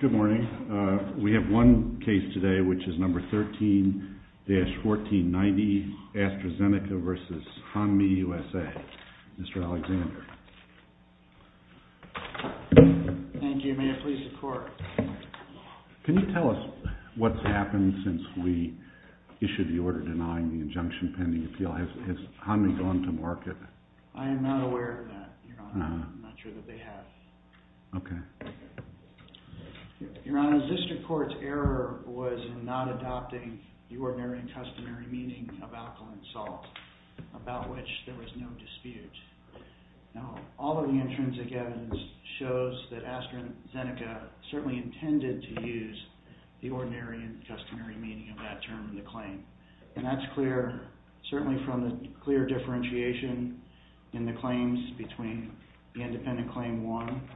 Good morning. We have one case today, which is No. 13-1490, ASTRAZENECA v. HANMI USA. Mr. Alexander. Thank you. May it please the Court. Can you tell us what's happened since we issued the order denying the injunction pending appeal? Has HANMI gone to market? I am not aware of that, Your Honor. I'm not sure that they have. Okay. Your Honor, the District Court's error was in not adopting the ordinary and customary meaning of alkaline salt, about which there was no dispute. Now, all of the intrinsic evidence shows that ASTRAZENECA certainly intended to use the ordinary and customary meaning of that term in the claim. And that's clear, certainly from the clear differentiation in the claims between the independent Claim 1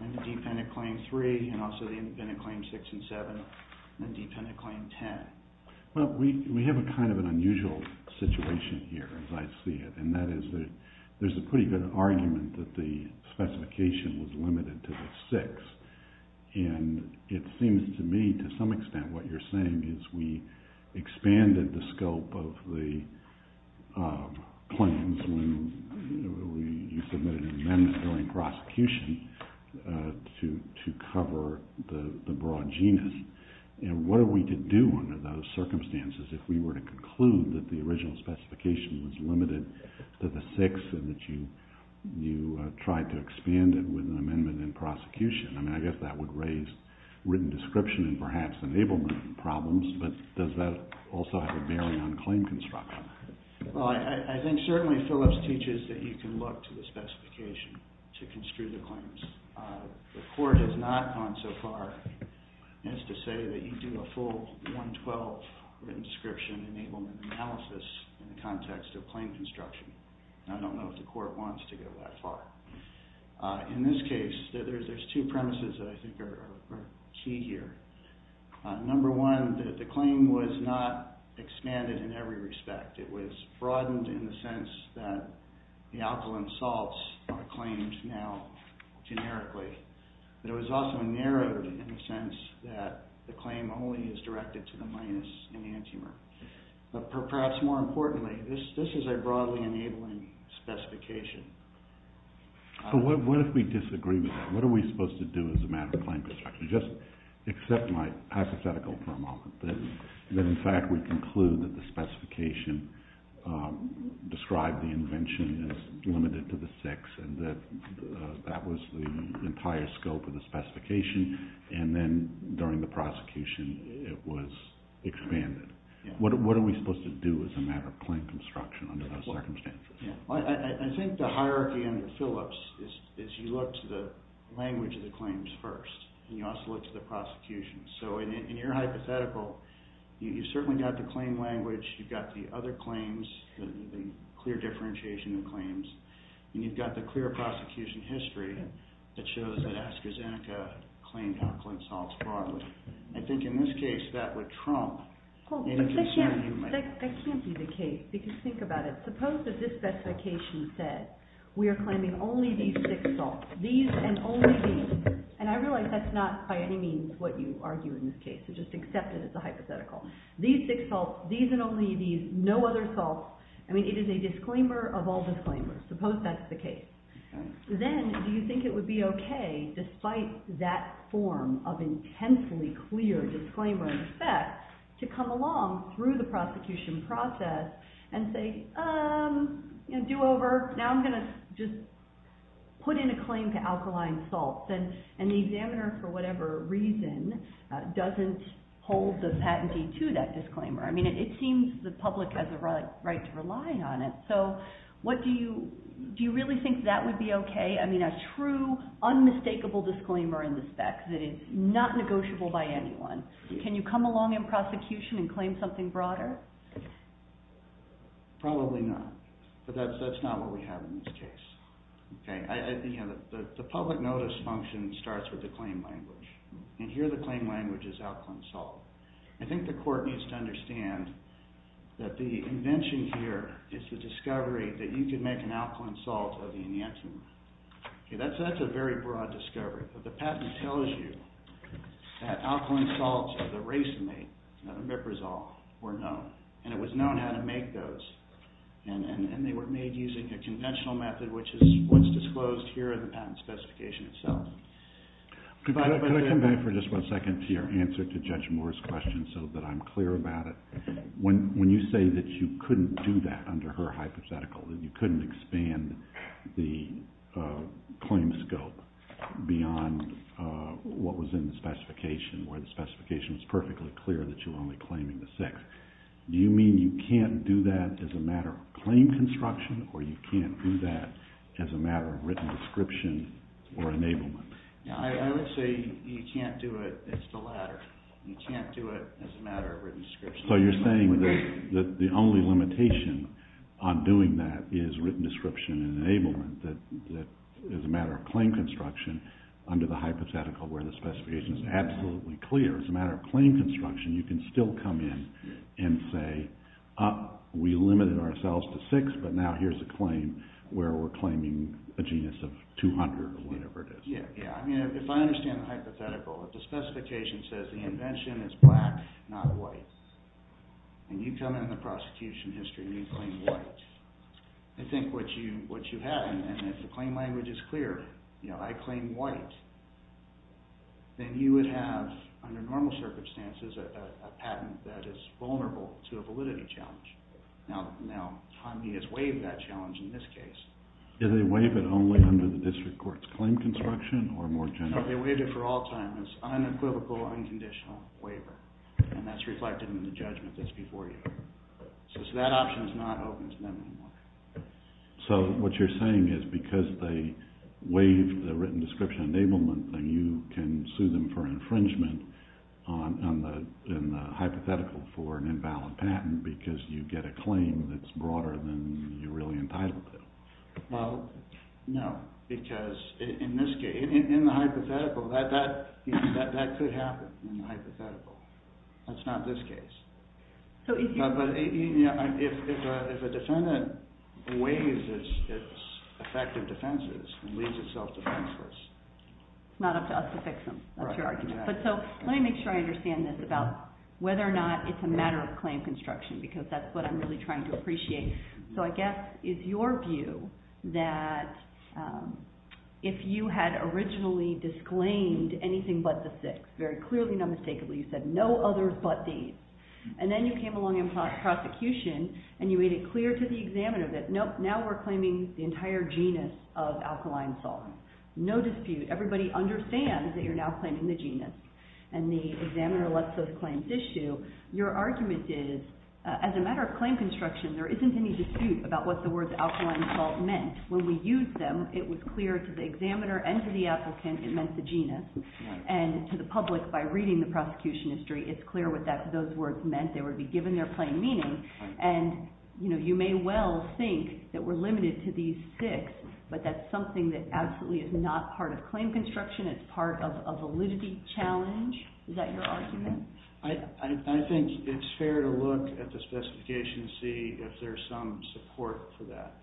and the dependent Claim 3 and also the independent Claim 6 and 7 and the dependent Claim 10. Well, we have a kind of an unusual situation here, as I see it, and that is that there's a pretty good argument that the specification was limited to the 6. And it seems to me to some extent what you're saying is we expanded the scope of the claims when you submitted an amendment during prosecution to cover the broad genus. And what are we to do under those circumstances if we were to conclude that the original specification was limited to the 6 and that you tried to expand it with an amendment in prosecution? I mean, I guess that would raise written description and perhaps enablement problems, but does that also have a bearing on claim construction? Well, I think certainly Phillips teaches that you can look to the specification to construe the claims. The Court has not gone so far as to say that you do a full 112 written description enablement analysis in the context of claim construction. I don't know if the Court wants to go that far. In this case, there's two premises that I think are key here. Number one, the claim was not expanded in every respect. It was broadened in the sense that the alkaline salts are claimed now generically. But it was also narrowed in the sense that the claim only is directed to the minus enantiomer. But perhaps more importantly, this is a broadly enabling specification. So what if we disagree with that? What are we supposed to do as a matter of claim construction? Just accept my hypothetical for a moment. That in fact, we conclude that the specification described the invention as limited to the six and that that was the entire scope of the specification. And then during the prosecution, it was expanded. What are we supposed to do as a matter of claim construction under those circumstances? I think the hierarchy under Phillips is you look to the language of the claims first. And you also look to the prosecution. So in your hypothetical, you've certainly got the claim language. You've got the other claims, the clear differentiation of claims. And you've got the clear prosecution history that shows that AstraZeneca claimed alkaline salts broadly. I think in this case, that would trump any concern you might have. That can't be the case because think about it. Suppose that this specification said we are claiming only these six salts, these and only these. And I realize that's not by any means what you argue in this case. So just accept it as a hypothetical. These six salts, these and only these, no other salts. I mean, it is a disclaimer of all disclaimers. Suppose that's the case. Then do you think it would be okay, despite that form of intensely clear disclaimer in effect, to come along through the prosecution process and say, do over. Now I'm going to just put in a claim to alkaline salts. And the examiner, for whatever reason, doesn't hold the patentee to that disclaimer. I mean, it seems the public has a right to rely on it. So do you really think that would be okay? I mean, a true, unmistakable disclaimer in the spec that is not negotiable by anyone. Can you come along in prosecution and claim something broader? Probably not. But that's not what we have in this case. The public notice function starts with the claim language. And here the claim language is alkaline salt. I think the court needs to understand that the invention here is the discovery that you can make an alkaline salt of the enantiomer. That's a very broad discovery. The patent tells you that alkaline salts of the race mate, miprazole, were known. And it was known how to make those. And they were made using a conventional method, which is what's disclosed here in the patent specification itself. Could I come back for just one second to your answer to Judge Moore's question so that I'm clear about it? When you say that you couldn't do that under her hypothetical, that you couldn't expand the claim scope beyond what was in the specification, where the specification was perfectly clear that you were only claiming the sex, do you mean you can't do that as a matter of claim construction, or you can't do that as a matter of written description or enablement? I would say you can't do it as the latter. You can't do it as a matter of written description. So you're saying that the only limitation on doing that is written description and enablement, that as a matter of claim construction, under the hypothetical where the specification is absolutely clear, as a matter of claim construction, you can still come in and say we limited ourselves to six, but now here's a claim where we're claiming a genus of 200 or whatever it is. Yeah, yeah. I mean, if I understand the hypothetical, if the specification says the invention is black, not white, and you come in the prosecution history and you claim white, I think what you have, and if the claim language is clear, you know, I claim white, then you would have, under normal circumstances, a patent that is vulnerable to a validity challenge. Now, time has waived that challenge in this case. Did they waive it only under the district court's claim construction or more generally? No, they waived it for all time as unequivocal, unconditional waiver, and that's reflected in the judgment that's before you. So that option is not open to them anymore. So what you're saying is because they waived the written description enablement, then you can sue them for infringement on the hypothetical for an invalid patent because you get a claim that's broader than you're really entitled to. Well, no, because in this case, in the hypothetical, that could happen in the hypothetical. That's not this case. But if a defendant waives its effective defenses, it leaves itself defenseless. It's not up to us to fix them. That's your argument. But so let me make sure I understand this about whether or not it's a matter of claim construction because that's what I'm really trying to appreciate. So I guess is your view that if you had originally disclaimed anything but the six, very clearly and unmistakably you said, no others but these, and then you came along in prosecution and you made it clear to the examiner that, nope, now we're claiming the entire genus of alkaline salt. No dispute. Everybody understands that you're now claiming the genus. And the examiner lets those claims issue. Your argument is as a matter of claim construction, there isn't any dispute about what the words alkaline salt meant. When we used them, it was clear to the examiner and to the applicant it meant the genus, and to the public by reading the prosecution history, it's clear what those words meant. They would be given their plain meaning. And you may well think that we're limited to these six, but that's something that absolutely is not part of claim construction. It's part of a validity challenge. Is that your argument? I think it's fair to look at the specification to see if there's some support for that.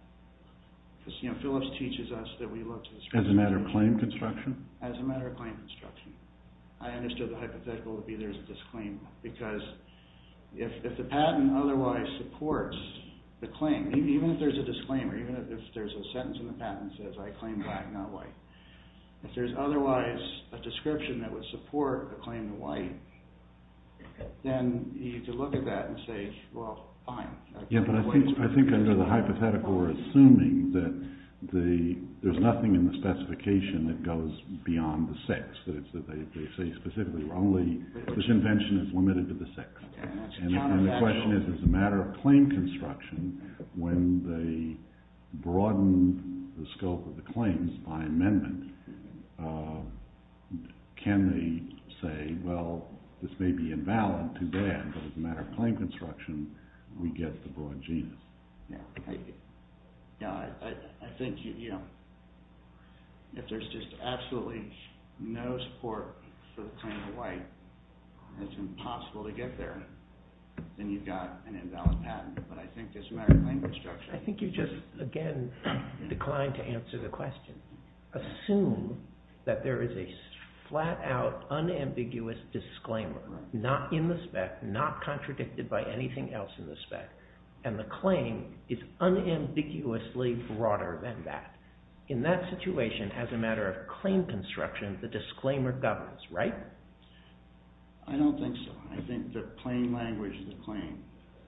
Because Phillips teaches us that we look to the specification. As a matter of claim construction? As a matter of claim construction. I understood the hypothetical to be there's a disclaimer. Because if the patent otherwise supports the claim, even if there's a disclaimer, even if there's a sentence in the patent that says, I claim black, not white. If there's otherwise a description that would support the claim to white, then you could look at that and say, well, fine. Yeah, but I think under the hypothetical we're assuming that there's nothing in the specification that goes beyond the six. They say specifically this invention is limited to the six. And the question is, as a matter of claim construction, when they broaden the scope of the claims by amendment, can they say, well, this may be invalid, too bad. But as a matter of claim construction, we get the broad genus. I think if there's just absolutely no support for the claim to white, it's impossible to get there. Then you've got an invalid patent. But I think as a matter of claim construction. I think you just, again, declined to answer the question. Assume that there is a flat-out, unambiguous disclaimer. Not in the spec, not contradicted by anything else in the spec. And the claim is unambiguously broader than that. In that situation, as a matter of claim construction, the disclaimer governs, right? I don't think so. I think the plain language of the claim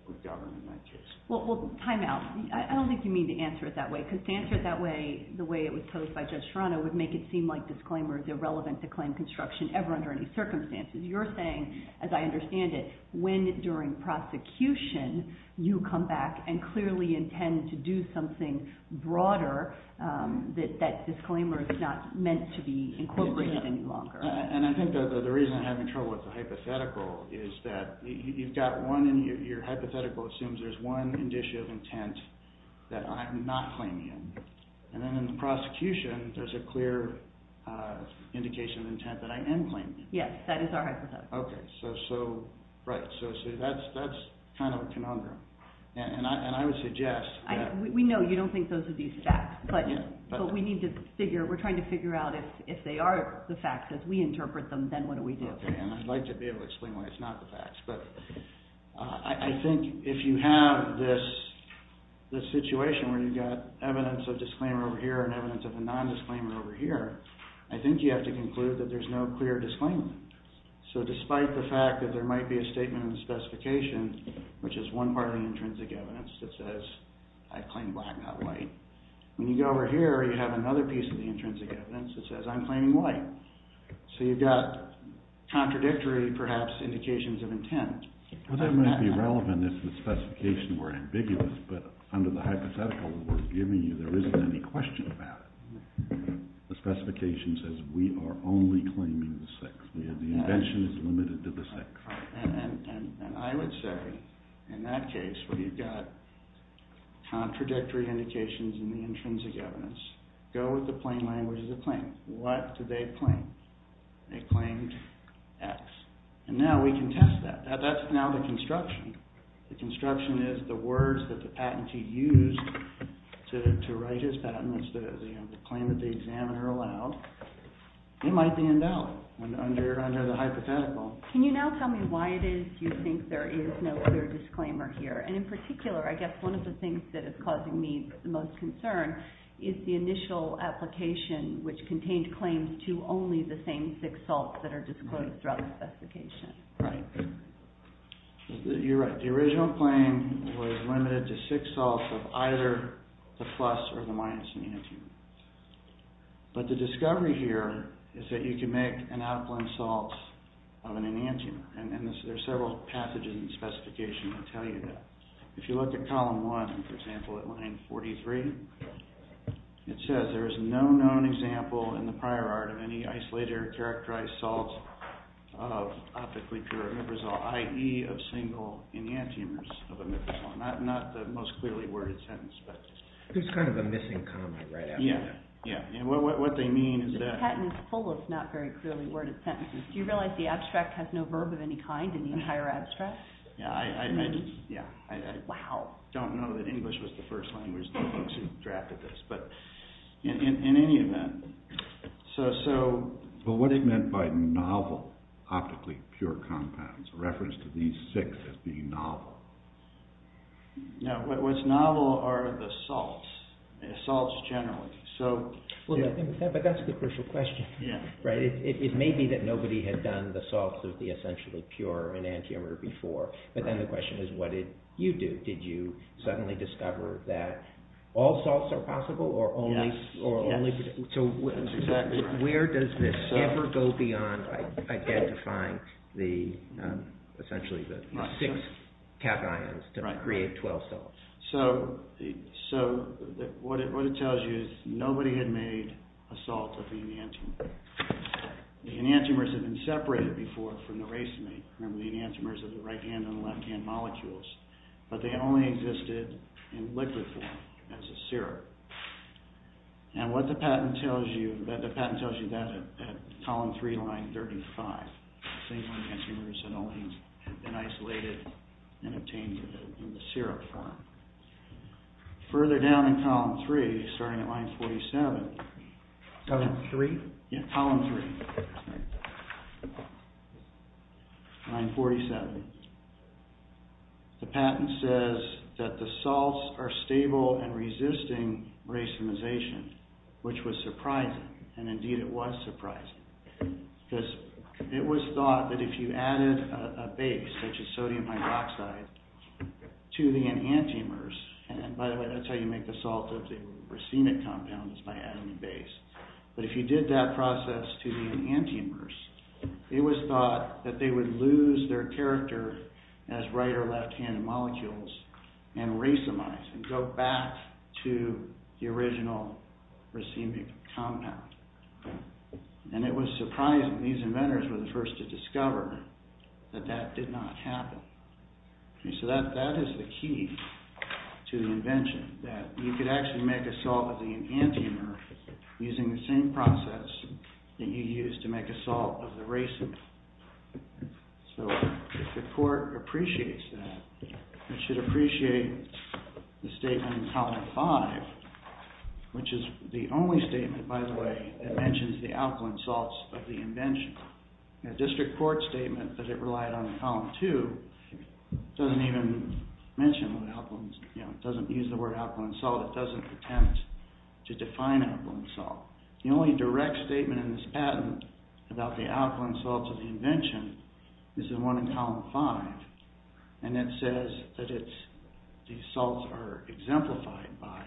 would govern in that case. Well, time out. I don't think you mean to answer it that way. Because to answer it that way, the way it was posed by Judge Serrano, would make it seem like disclaimer is irrelevant to claim construction ever under any circumstances. You're saying, as I understand it, when during prosecution, you come back and clearly intend to do something broader, that disclaimer is not meant to be incorporated any longer. And I think the reason I'm having trouble with the hypothetical, is that you've got one, and your hypothetical assumes there's one indicia of intent that I'm not claiming. And then in the prosecution, there's a clear indication of intent that I am claiming. Yes, that is our hypothetical. Okay, so that's kind of a conundrum. And I would suggest... We know you don't think those are these facts. But we need to figure, we're trying to figure out if they are the facts as we interpret them, then what do we do? Okay, and I'd like to be able to explain why it's not the facts. But I think if you have this situation where you've got evidence of disclaimer over here and evidence of a non-disclaimer over here, I think you have to conclude that there's no clear disclaimer. So despite the fact that there might be a statement in the specification, which is one part of the intrinsic evidence that says, I claim black, not white. When you go over here, you have another piece of the intrinsic evidence that says, I'm claiming white. So you've got contradictory, perhaps, indications of intent. Well, that might be relevant if the specifications were ambiguous, but under the hypothetical that we're giving you, there isn't any question about it. The specification says we are only claiming the sex. The invention is limited to the sex. And I would say, in that case, where you've got contradictory indications in the intrinsic evidence, go with the plain language of the claim. What do they claim? They claimed X. And now we can test that. That's now the construction. The construction is the words that the patentee used to write his patent, the claim that the examiner allowed. It might be in doubt under the hypothetical. Can you now tell me why it is you think there is no clear disclaimer here? And in particular, I guess one of the things that is causing me the most concern is the initial application, which contained claims to only the same six salts that are disclosed throughout the specification. Right. You're right. But the original claim was limited to six salts of either the plus or the minus enantiomer. But the discovery here is that you can make an out-of-blend salt of an enantiomer. And there are several pathogens in the specification that tell you that. If you look at column one, for example, at line 43, it says there is no known example in the prior art of any isolator-characterized salt of optically cured ribosol, i.e., of single enantiomers of a ribosol. Not the most clearly worded sentence, but... There's kind of a missing comma right after that. Yeah. What they mean is that... The patent is full of not very clearly worded sentences. Do you realize the abstract has no verb of any kind in the entire abstract? Yeah, I just... Wow. I don't know that English was the first language that the folks who drafted this. But in any event, so... But what it meant by novel optically pure compounds, reference to these six as being novel. No, what's novel are the salts, salts generally. So... But that's the crucial question, right? It may be that nobody had done the salts of the essentially pure enantiomer before. But then the question is, what did you do? Did you suddenly discover that all salts are possible or only... Yes, yes. So where does this ever go beyond identifying the... Essentially the six cations to create 12 salts? So what it tells you is nobody had made a salt of the enantiomer. The enantiomers had been separated before from the racemate. Remember the enantiomers are the right hand and the left hand molecules. But they only existed in liquid form as a syrup. And what the patent tells you... The patent tells you that at column 3, line 35. The same enantiomers had only been isolated and obtained in the syrup form. Further down in column 3, starting at line 47... Column 3? Yeah, column 3. Line 47. The patent says that the salts are stable and resisting racemization, which was surprising. And indeed it was surprising. Because it was thought that if you added a base, such as sodium hydroxide, to the enantiomers... And by the way, that's how you make the salt of the racemic compound, is by adding a base. But if you did that process to the enantiomers, it was thought that they would lose their character as right or left hand molecules and racemize and go back to the original racemic compound. And it was surprising. These inventors were the first to discover that that did not happen. So that is the key to the invention. That you could actually make a salt of the enantiomer using the same process that you used to make a salt of the racemic. So if the court appreciates that, it should appreciate the statement in column 5, which is the only statement, by the way, that mentions the alkaline salts of the invention. A district court statement that it relied on in column 2 doesn't even mention alkalines. It doesn't use the word alkaline salt. It doesn't attempt to define alkaline salt. The only direct statement in this patent about the alkaline salts of the invention is the one in column 5. And it says that the salts are exemplified by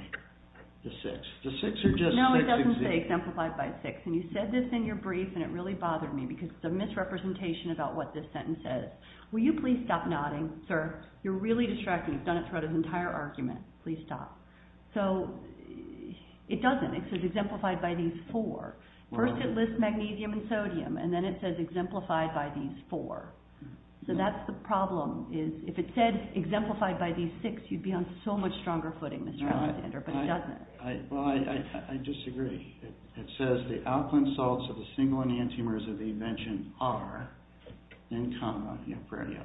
the 6. The 6 are just... No, it doesn't say exemplified by 6. And you said this in your brief and it really bothered me because it's a misrepresentation about what this sentence says. Will you please stop nodding, sir? You're really distracting. You've done it throughout his entire argument. Please stop. So it doesn't. It says exemplified by these 4. First it lists magnesium and sodium and then it says exemplified by these 4. So that's the problem. If it said exemplified by these 6, you'd be on so much stronger footing, Mr. Alexander, but it doesn't. Well, I disagree. It says the alkaline salts of the single enantiomers of the invention are, in comma, neopreneal.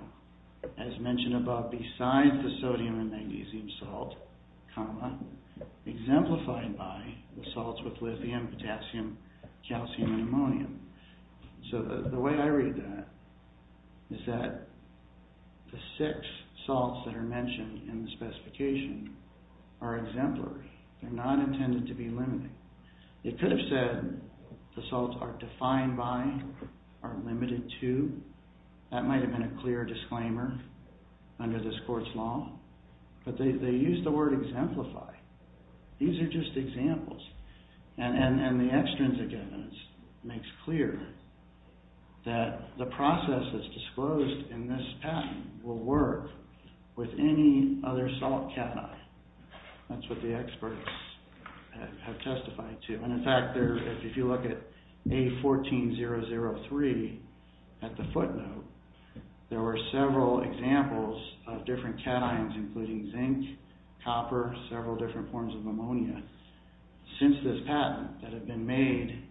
As mentioned above, besides the sodium and magnesium salt, comma, exemplified by the salts with lithium, potassium, calcium, and ammonium. So the way I read that is that the 6 salts that are mentioned in the specification are exemplary. They're not intended to be limited. It could have said the salts are defined by, are limited to. That might have been a clear disclaimer under this court's law. But they used the word exemplify. These are just examples. And the extrinsic evidence makes clear that the process that's disclosed in this patent will work with any other salt cation. That's what the experts have testified to. And in fact, if you look at A14003 at the footnote, there were several examples of different cations, including zinc, copper, several different forms of ammonia, since this patent that have been made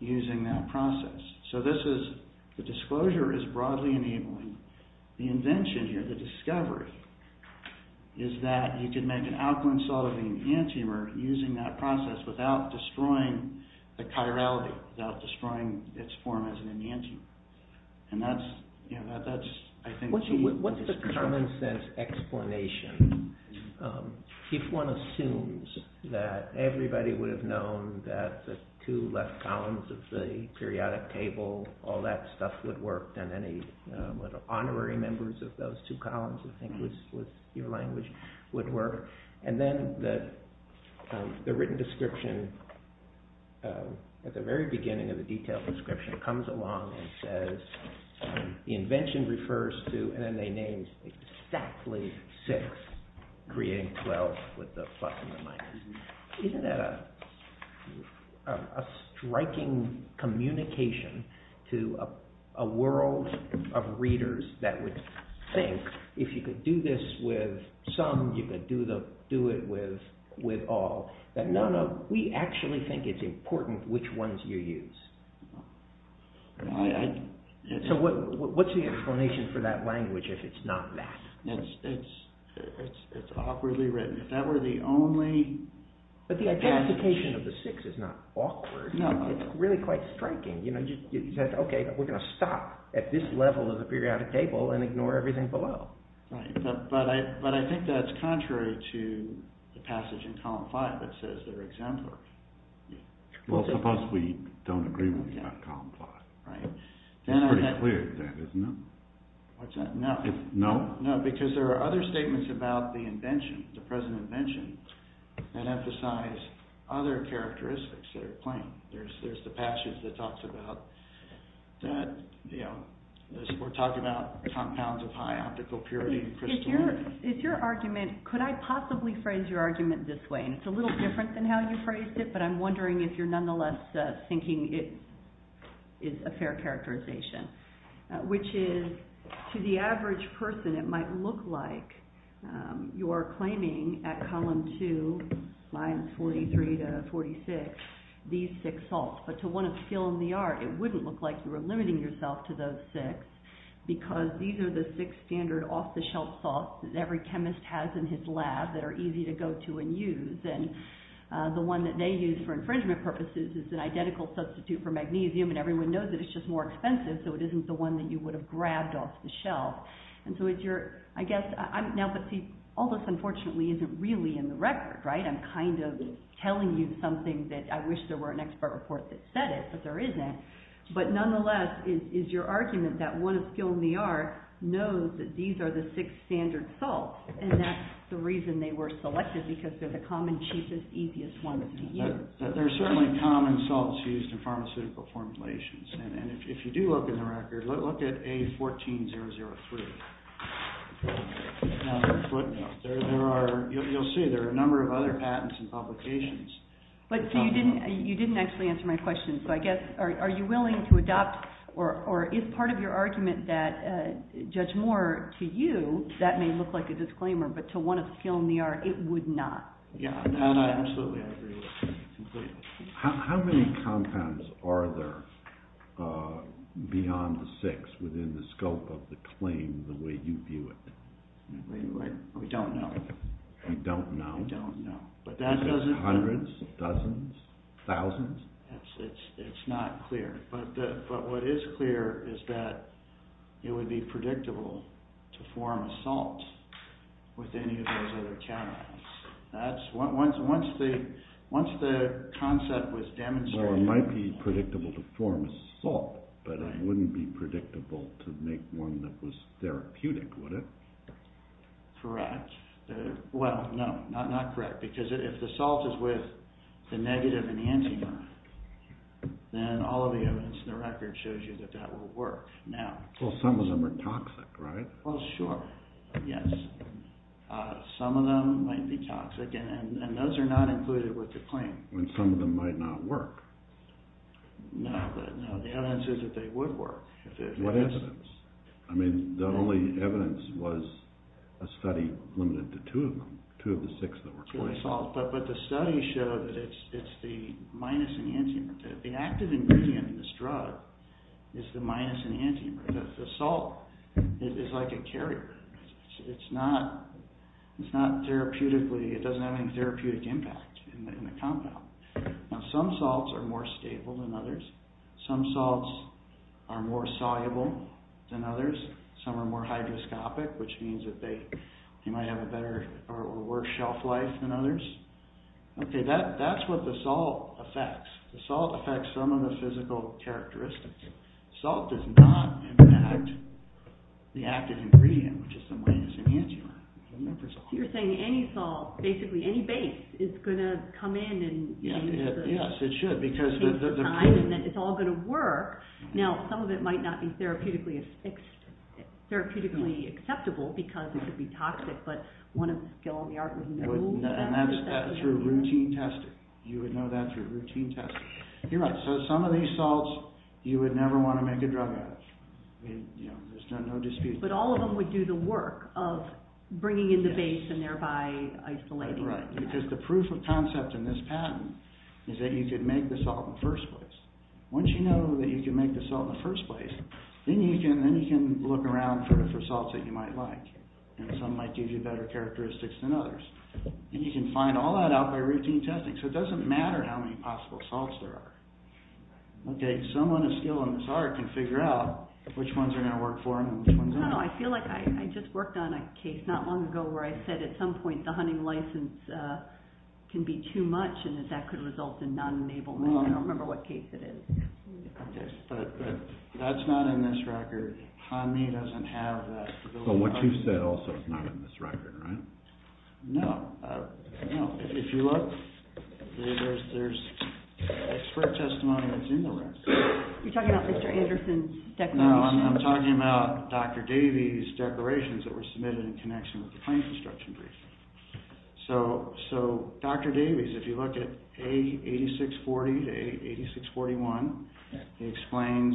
using that process. So the disclosure is broadly enabling. The invention here, the discovery, is that you can make an alkaline salt of an enantiomer using that process without destroying the chirality, without destroying its form as an enantiomer. And that's, I think, key. What's the common sense explanation if one assumes that everybody would have known that the two left columns of the periodic table, all that stuff would work, and any honorary members of those two columns, I think, with your language would work. And then the written description, at the very beginning of the detailed description, comes along and says, the invention refers to, and then they name exactly six, creating 12 with the plus and the minus. Isn't that a striking communication to a world of readers that would think, if you could do this with some, you could do it with all, that no, no, we actually think it's important which ones you use. So what's the explanation for that language if it's not that? It's awkwardly written. If that were the only... But the identification of the six is not awkward. No. It's really quite striking. It says, OK, we're going to stop at this level of the periodic table and ignore everything below. Right. But I think that's contrary to the passage in column 5 that says they're exemplary. Well, suppose we don't agree with you about column 5. Right. It's pretty clear that isn't it? What's that? No. No? No, because there are other statements about the invention, the present invention, that emphasize other characteristics that are plain. There's the passage that talks about that, you know, we're talking about compounds of high optical purity and crystalline. It's your argument. Could I possibly phrase your argument this way? And it's a little different than how you phrased it, but I'm wondering if you're nonetheless thinking it is a fair characterization, which is to the average person it might look like you're claiming at column 2, lines 43 to 46, these six salts, but to one of skill in the art it wouldn't look like you were limiting yourself to those six, because these are the six standard off-the-shelf salts that every chemist has in his lab that are easy to go to and use. And the one that they use for infringement purposes is an identical substitute for magnesium, and everyone knows that it's just more expensive, so it isn't the one that you would have grabbed off the shelf. And so it's your, I guess, now, but see, all this unfortunately isn't really in the record, right? I'm kind of telling you something that I wish there were an expert report that said it, but there isn't, but nonetheless, it's your argument that one of skill in the art knows that these are the six standard salts, and that's the reason they were selected, because they're the common, cheapest, easiest ones to use. There are certainly common salts used in pharmaceutical formulations, and if you do look in the record, You'll see there are a number of other patents and publications. You didn't actually answer my question, so I guess, are you willing to adopt, or is part of your argument that, Judge Moore, to you, that may look like a disclaimer, but to one of skill in the art, it would not? Yeah, absolutely, I agree with you completely. How many compounds are there beyond the six within the scope of the claim the way you view it? We don't know. You don't know? We don't know. Hundreds? Dozens? Thousands? It's not clear, but what is clear is that it would be predictable to form a salt with any of those other compounds. Once the concept was demonstrated... Well, it might be predictable to form a salt, but it wouldn't be predictable to make one that was therapeutic, would it? Correct. Well, no, not correct, because if the salt is with the negative enantiomer, then all of the evidence in the record shows you that that will work. Well, some of them are toxic, right? Well, sure, yes. Some of them might be toxic, and those are not included with the claim. Some of them might not work. No, the evidence is that they would work. What evidence? I mean, the only evidence was a study limited to two of them, two of the six that were claimed. But the study showed that it's the minus enantiomer. The active ingredient in this drug is the minus enantiomer. The salt is like a carrier. It's not therapeutically... It doesn't have any therapeutic impact in the compound. Now, some salts are more stable than others. Some salts are more soluble than others. Some are more hydroscopic, which means that they might have a better or worse shelf life than others. Okay, that's what the salt affects. The salt affects some of the physical characteristics. Salt does not impact the active ingredient, which is the minus enantiomer. You're saying any salt, basically any base, is going to come in and... Yes, it should, because... ...take time, and it's all going to work. Now, some of it might not be therapeutically acceptable because it could be toxic, but one of the skill in the art was... And that's through routine testing. You would know that through routine testing. You're right, so some of these salts, you would never want to make a drug out of. I mean, you know, there's no dispute. But all of them would do the work of bringing in the base and thereby isolating it. Right, because the proof of concept in this patent is that you could make the salt in the first place. Once you know that you can make the salt in the first place, then you can look around for salts that you might like, and some might give you better characteristics than others. And you can find all that out by routine testing, so it doesn't matter how many possible salts there are. Okay, someone of skill in this art can figure out which ones are going to work for them and which ones aren't. No, I feel like I just worked on a case not long ago where I said at some point the hunting license can be too much and that that could result in non-enablement. I don't remember what case it is. Okay, but that's not in this record. HANMI doesn't have that. But what you said also is not in this record, right? No, no. If you look, there's expert testimony that's in the record. You're talking about Mr. Anderson's declaration? No, I'm talking about Dr. Davies' declarations that were submitted in connection with the plane construction briefing. So Dr. Davies, if you look at A8640 to A8641, he explains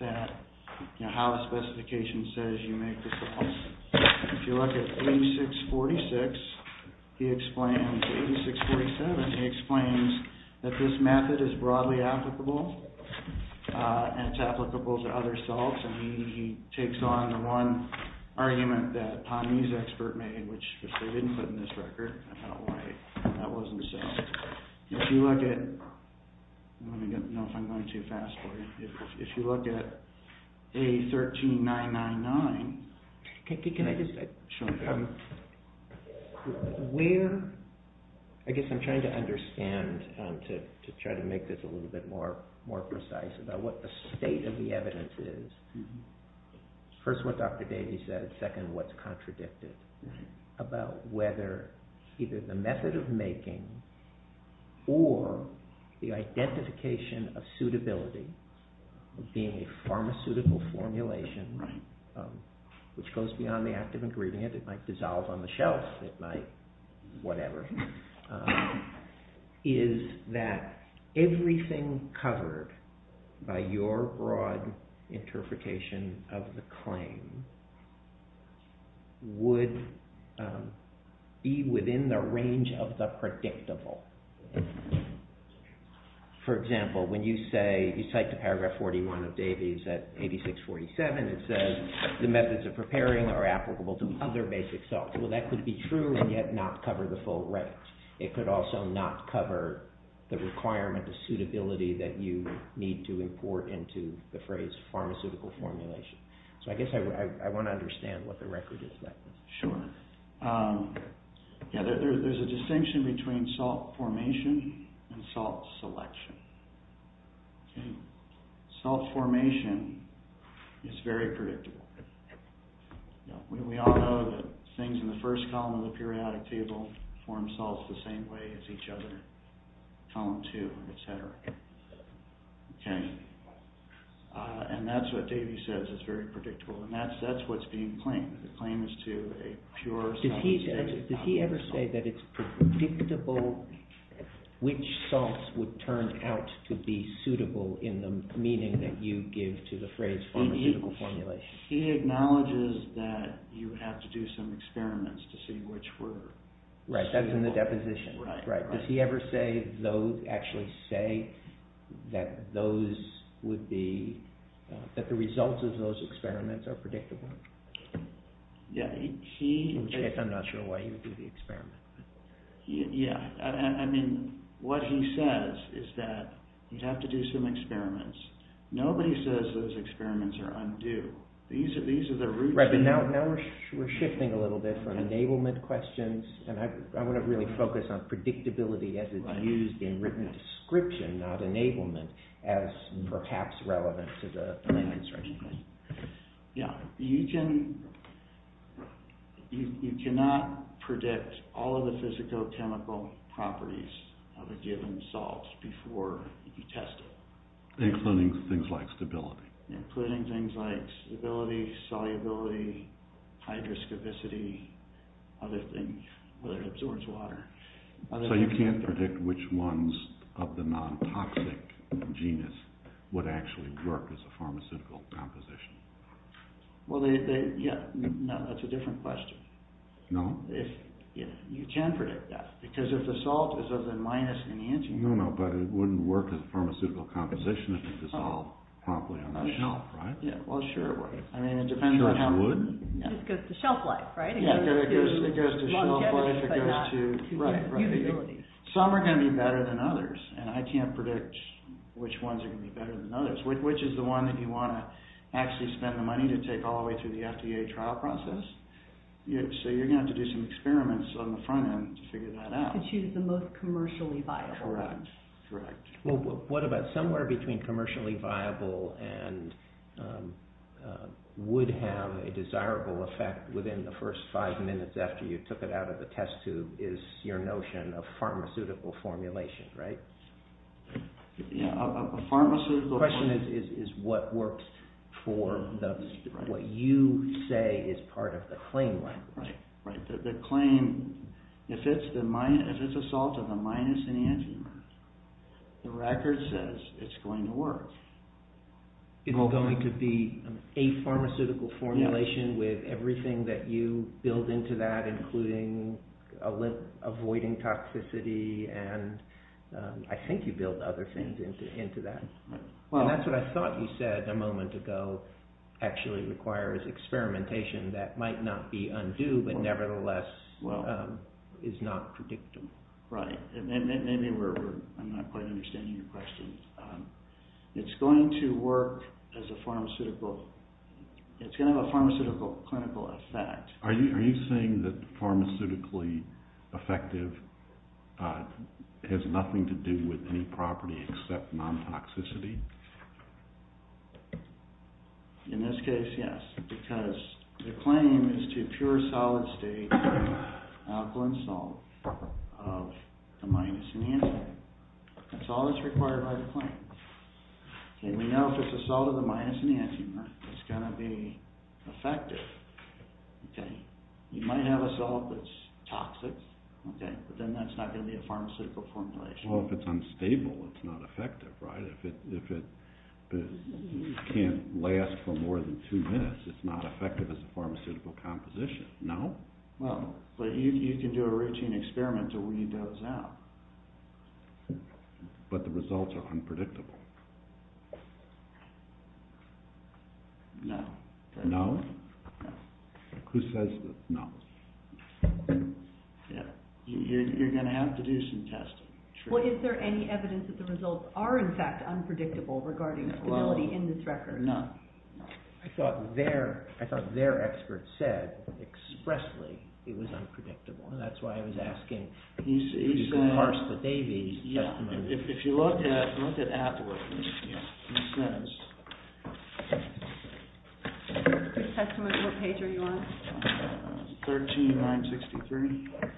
how the specification says you make the salts. If you look at A8646, he explains A8647, he explains that this method is broadly applicable and it's applicable to other salts, and he takes on the one argument that HANMI's expert made, which they didn't put in this record. I don't know why that wasn't so. If you look at... Let me know if I'm going too fast for you. If you look at A13999... Can I just... Sure. Where... I guess I'm trying to understand, to try to make this a little bit more precise, about what the state of the evidence is. First, what Dr. Davies said. Second, what's contradicted about whether either the method of making or the identification of suitability of being a pharmaceutical formulation, which goes beyond the act of ingredient. It might dissolve on the shelf. It might whatever. Is that everything covered by your broad interpretation of the claim would be within the range of the predictable? For example, when you say... You cite to paragraph 41 of Davies at 8647, it says the methods of preparing are applicable to other basic salts. Well, that could be true and yet not cover the full range. It could also not cover the requirement of suitability that you need to import into the phrase pharmaceutical formulation. I guess I want to understand what the record is. Sure. There's a distinction between salt formation and salt selection. Salt formation is very predictable. We all know that things in the first column of the periodic table form salts the same way as each other, column two, etc. Okay. And that's what Davies says is very predictable. And that's what's being claimed. The claim is to a pure... Did he ever say that it's predictable which salts would turn out to be suitable in the meaning that you give to the phrase pharmaceutical formulation? He acknowledges that you have to do some experiments to see which were suitable. Right, that's in the deposition. Does he ever actually say that the results of those experiments are predictable? Yeah, he... I'm not sure why he would do the experiment. Yeah, I mean, what he says is that you have to do some experiments. Nobody says those experiments are undue. These are the roots... Right, but now we're shifting a little bit from enablement questions and I want to really focus on predictability as it's used in written description, not enablement, as perhaps relevant to the land instruction. Yeah, you can... You cannot predict all of the physicochemical properties of a given salt before you test it. Including things like stability. Including things like stability, solubility, hydroscopicity, other things, whether it absorbs water. So you can't predict which ones of the non-toxic genus would actually work as a pharmaceutical composition? Well, they... No, that's a different question. No? You can predict that. Because if the salt is of the minus enantiomer... No, no, but it wouldn't work as a pharmaceutical composition if it dissolved promptly on the shelf, right? Yeah, well, sure it would. I mean, it depends on how... It just goes to shelf life, right? It goes to shelf life, it goes to... Right, right. Some are going to be better than others and I can't predict which ones are going to be better than others. Which is the one that you want to actually spend the money to take all the way through the FDA trial process? So you're going to have to do some experiments on the front end to figure that out. You could choose the most commercially viable. Correct, correct. Well, what about somewhere between commercially viable and would have a desirable effect within the first five minutes after you took it out of the test tube is your notion of pharmaceutical formulation, right? Yeah, a pharmaceutical... The question is what works for the... What you say is part of the claim, right? Right, right. The claim, if it's a salt of the minus enantiomer, the record says it's going to work. It's going to be a pharmaceutical formulation with everything that you build into that including avoiding toxicity and I think you build other things into that. Well... And that's what I thought you said a moment ago actually requires experimentation that might not be undue but nevertheless is not predictable. Right, and maybe we're... I'm not quite understanding your question. It's going to work as a pharmaceutical... It's going to have a pharmaceutical clinical effect. Are you saying that pharmaceutically effective has nothing to do with any property except non-toxicity? In this case, yes because the claim is to pure solid-state alkaline salt of the minus enantiomer. Okay, that's all that's required by the claim. And we know if it's a salt of the minus enantiomer it's going to be effective. Okay, you might have a salt that's toxic but then that's not going to be a pharmaceutical formulation. Well, if it's unstable, it's not effective, right? If it can't last for more than two minutes it's not effective as a pharmaceutical composition, no? Well, but you can do a routine experiment to weed those out. But the results are unpredictable. No. No? No. Who says that? No. Yeah, you're going to have to do some testing. Well, is there any evidence that the results are in fact unpredictable regarding stability in this record? No. I thought their experts said expressly it was unpredictable. That's why I was asking if you can parse the Davies' testimony. Yeah, if you look at Atwood, he says... Your testimony, what page are you on? 13, 963. Okay. If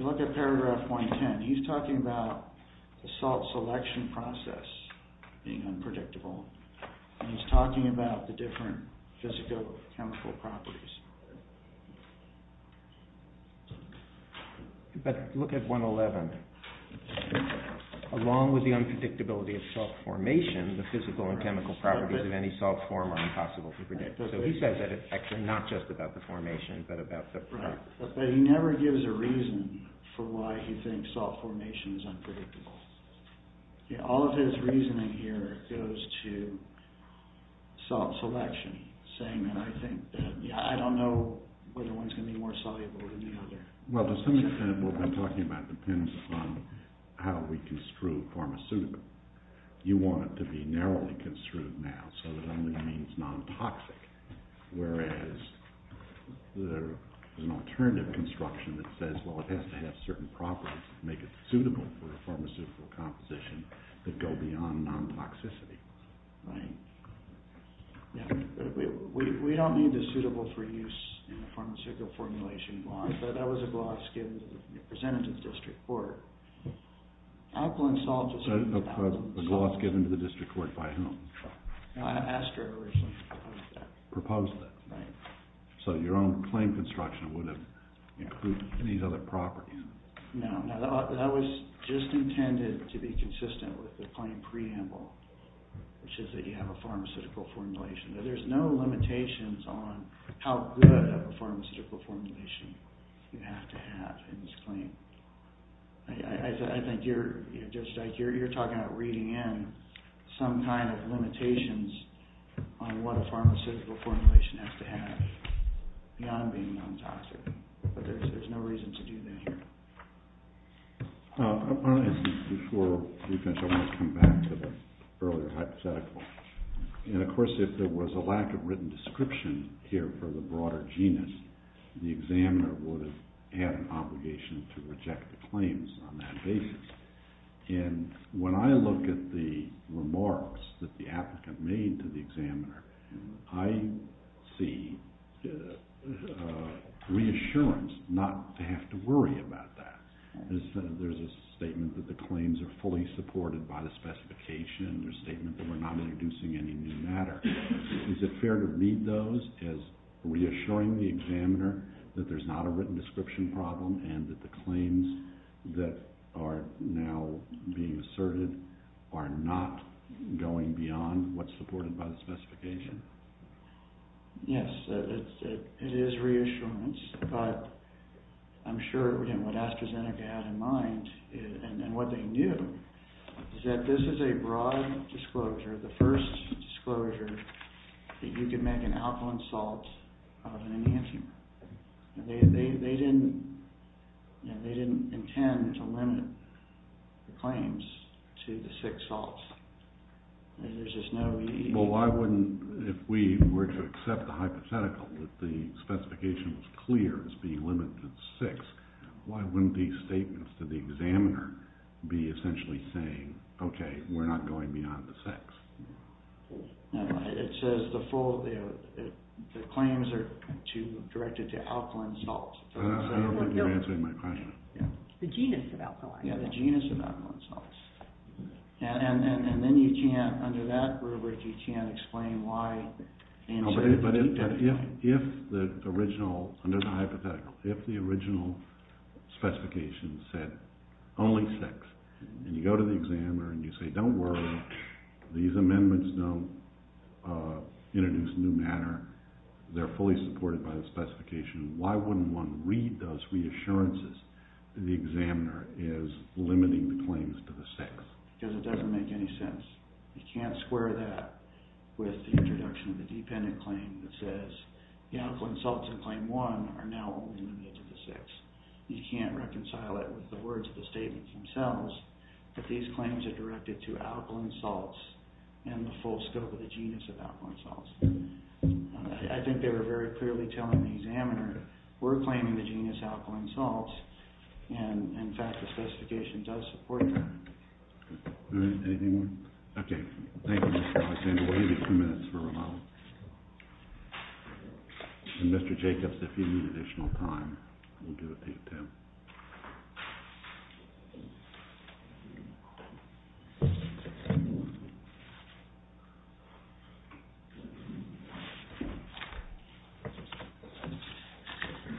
you look at paragraph 110, he's talking about the salt selection process being unpredictable. And he's talking about the different physicochemical properties. But look at 111. Along with the unpredictability of salt formation, the physical and chemical properties of any salt form are impossible to predict. So he says that it's actually not just about the formation, but about the... Right. But he never gives a reason for why he thinks salt formation is unpredictable. All of his reasoning here goes to salt selection, saying that I don't know whether one's going to be more soluble than the other. Well, to some extent what we've been talking about depends on how we construe pharmaceutical. You want it to be narrowly construed now, so it only means non-toxic, whereas there's an alternative construction that says, well, it has to have certain properties that make it suitable for a pharmaceutical composition that go beyond non-toxicity. Right. Yeah. We don't need the suitable for use in a pharmaceutical formulation gloss, but that was a gloss presented to the district court. Alkaline salt is... A gloss given to the district court by whom? I asked her originally to propose that. Proposed that? Right. So your own claim construction would have included these other properties? No. That was just intended to be consistent with the claim preamble, which is that you have a pharmaceutical formulation. There's no limitations on how good of a pharmaceutical formulation you have to have in this claim. I think you're talking about reading in some kind of limitations on what a pharmaceutical formulation has to have beyond being non-toxic, but there's no reason to do that here. Before we finish, I want to come back to the earlier hypothetical. And, of course, if there was a lack of written description here for the broader genus, the examiner would have had an obligation to reject the claims on that basis. And when I look at the remarks that the applicant made to the examiner, I see reassurance not to have to worry about that. There's a statement that the claims are fully supported by the specification. There's a statement that we're not introducing any new matter. Is it fair to read those as reassuring the examiner that there's not a written description problem and that the claims that are now being asserted are not going beyond what's supported by the specification? Yes, it is reassurance. But I'm sure, again, what AstraZeneca had in mind and what they knew is that this is a broad disclosure, the first disclosure that you can make an alkaline salt of an enantiomer. They didn't intend to limit the claims to the six salts. Well, why wouldn't, if we were to accept the hypothetical that the specification was clear as being limited to the six, why wouldn't these statements to the examiner be essentially saying, okay, we're not going beyond the six? It says the claims are directed to alkaline salts. I don't think you're answering my question. The genus of alkaline salts. Yeah, the genus of alkaline salts. And then you can't, under that rubric, you can't explain why... But if the original, under the hypothetical, if the original specification said only six, and you go to the examiner and you say, don't worry, these amendments don't introduce new matter, they're fully supported by the specification, why wouldn't one read those reassurances that the examiner is limiting the claims to the six? Because it doesn't make any sense. You can't square that with the introduction of the dependent claim that says the alkaline salts in claim one are now only limited to the six. You can't reconcile it with the words of the statements themselves that these claims are directed to alkaline salts and the full scope of the genus of alkaline salts. I think they were very clearly telling the examiner, we're claiming the genus alkaline salts, and, in fact, the specification does support that. All right, anything more? Okay, thank you, Mr. Alexander. We'll give you two minutes for rebuttal. And, Mr. Jacobs, if you need additional time, we'll give it to you, too.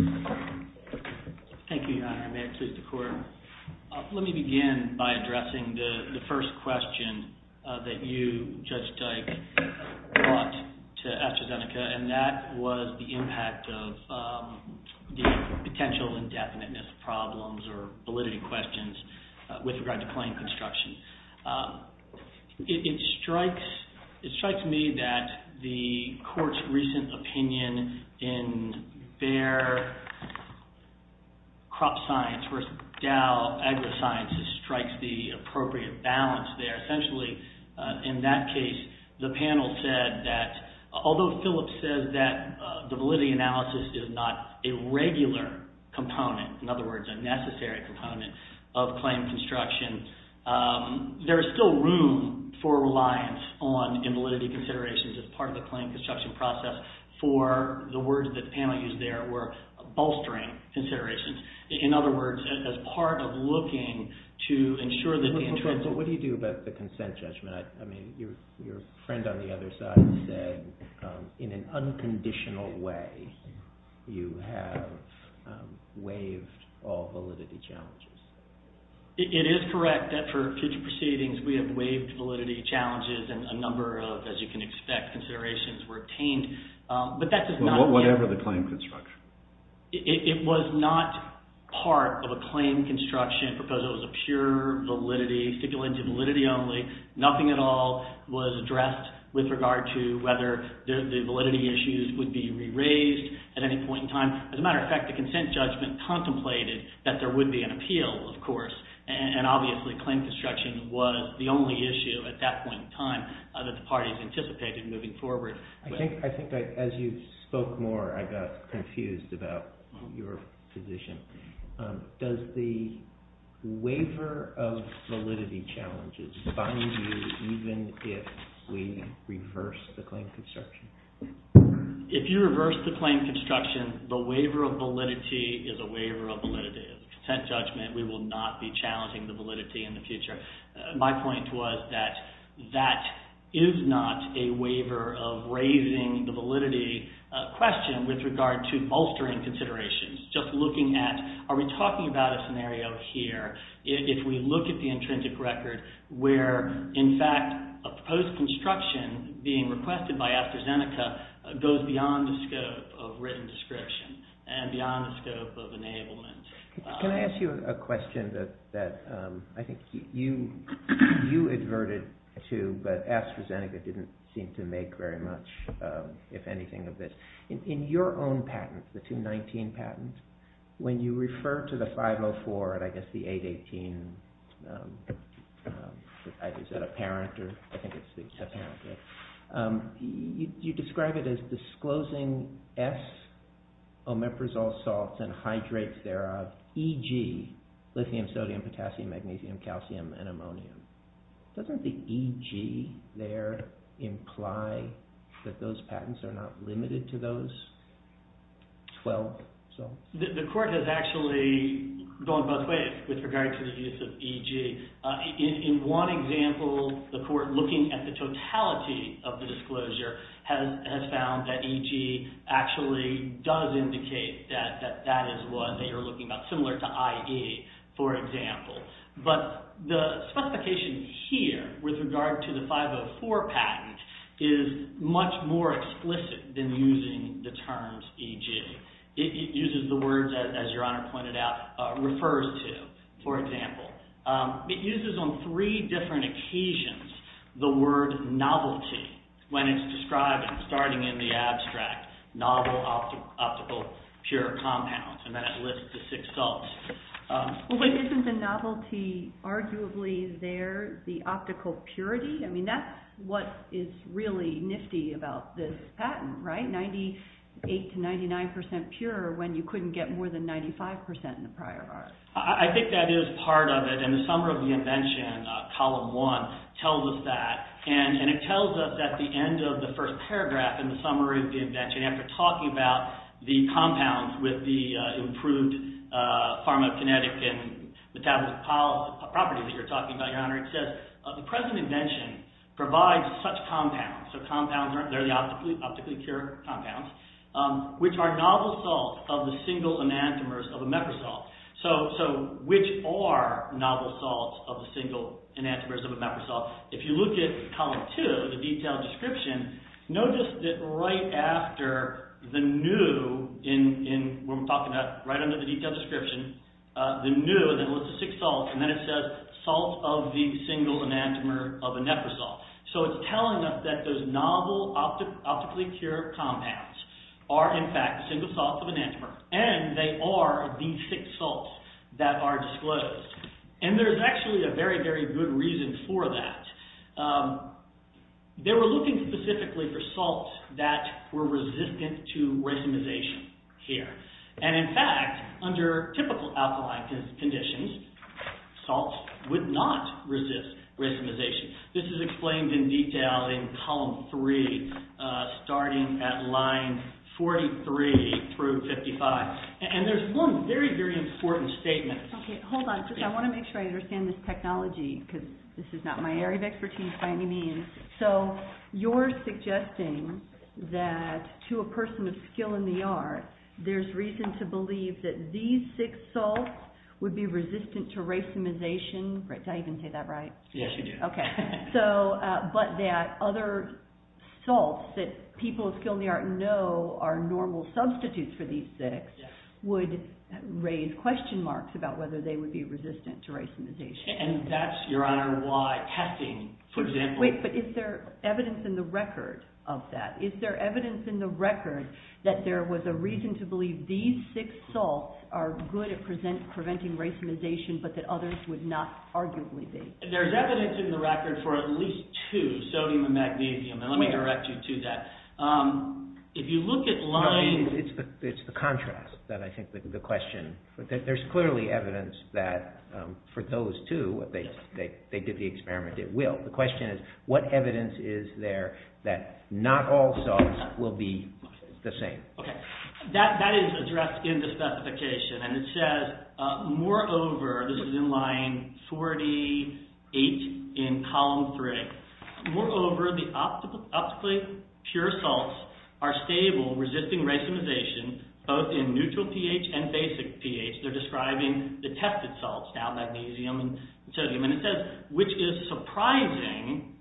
Thank you. Thank you, Your Honor. May it please the Court. Let me begin by addressing the first question that you, Judge Dyke, brought to AstraZeneca, and that was the impact of the potential indefiniteness problems or validity questions with regard to claim construction. It strikes me that the Court's recent opinion in their crop science versus Dow AgriScience strikes the appropriate balance there. Essentially, in that case, the panel said that, although Phillips says that the validity analysis is not a regular component, in other words, a necessary component of claim construction, there is still room for reliance on invalidity considerations as part of the claim construction process for the words that the panel used there were bolstering considerations. In other words, as part of looking to ensure that the intrinsic... What do you do about the consent judgment? I mean, your friend on the other side said, in an unconditional way, you have waived all validity challenges. It is correct that for future proceedings, we have waived validity challenges and a number of, as you can expect, considerations were obtained, but that does not... Well, whatever the claim construction. It was not part of a claim construction proposal. It was a pure validity, speculative validity only. Nothing at all was addressed with regard to whether the validity issues would be re-raised at any point in time. As a matter of fact, the consent judgment contemplated that there would be an appeal, of course, and obviously, claim construction was the only issue at that point in time that the parties anticipated moving forward. I think as you spoke more, I got confused about your position. Does the waiver of validity challenges bind you even if we reverse the claim construction? If you reverse the claim construction, the waiver of validity is a waiver of validity. Consent judgment, we will not be challenging the validity in the future. My point was that that is not a waiver of raising the validity question with regard to altering considerations, just looking at are we talking about a scenario here if we look at the intrinsic record where, in fact, a proposed construction being requested by AstraZeneca goes beyond the scope of written description and beyond the scope of enablement. Can I ask you a question that I think you adverted to, but AstraZeneca didn't seem to make very much, if anything, of this. In your own patent, the 219 patent, when you refer to the 504 and I guess the 818, is that apparent? You describe it as disclosing S omeprazole salts and hydrates thereof, EG, lithium, sodium, potassium, magnesium, calcium, and ammonium. Doesn't the EG there imply that those patents are not limited to those 12 salts? The court has actually gone both ways with regard to the use of EG. In one example, the court, looking at the totality of the disclosure, has found that EG actually does indicate that that is what they are looking at, similar to IE, for example. But the specification here, with regard to the 504 patent, is much more explicit than using the terms EG. It uses the words, as Your Honor pointed out, refers to, for example. It uses on three different occasions the word novelty when it's described starting in the abstract, novel, optical, pure compounds, and then it lists the six salts. Isn't the novelty arguably there, the optical purity? I mean, that's what is really nifty about this patent, right? 98 to 99% pure when you couldn't get more than 95% in the prior bars. I think that is part of it, and the summary of the invention, column one, tells us that. And it tells us at the end of the first paragraph in the summary of the invention, after talking about the compounds with the improved pharmacokinetic and metabolic properties that you're talking about, Your Honor, it says, the present invention provides such compounds, so compounds, they're the optically pure compounds, which are novel salts of the single enantiomers of imeprasol. So, which are novel salts of the single enantiomers of imeprasol? If you look at column two, the detailed description, notice that right after the new, in what we're talking about, right under the detailed description, the new, that lists the six salts, and then it says, salts of the single enantiomer of imeprasol. So, it's telling us that those novel optically pure compounds are, in fact, single salts of enantiomer, and they are the six salts that are disclosed. And there's actually a very, very good reason for that. They were looking specifically for salts that were resistant to racemization here. And, in fact, under typical alkaline conditions, salts would not resist racemization. This is explained in detail in column three, starting at line 43 through 55. And there's one very, very important statement. Okay, hold on, because I want to make sure I understand this technology, because this is not my area of expertise by any means. So, you're suggesting that to a person of skill in the art, there's reason to believe that these six salts would be resistant to racemization. Did I even say that right? Yes, you did. Okay. So, but that other salts that people of skill in the art know are normal substitutes for these six would raise question marks about whether they would be resistant to racemization. And that's, Your Honor, why testing, for example— Wait, but is there evidence in the record of that? Is there evidence in the record that there was a reason to believe these six salts are good at preventing racemization, but that others would not arguably be? There's evidence in the record for at least two, sodium and magnesium. And let me direct you to that. If you look at lines— It's the contrast that I think the question— There's clearly evidence that for those two, if they did the experiment, it will. The question is, what evidence is there that not all salts will be the same? Okay. That is addressed in the specification, and it says, moreover—this is in line 48 in column three— moreover, the optically pure salts are stable, resisting racemization, both in neutral pH and basic pH. They're describing the tested salts, now, magnesium and sodium. And it says, which is surprising,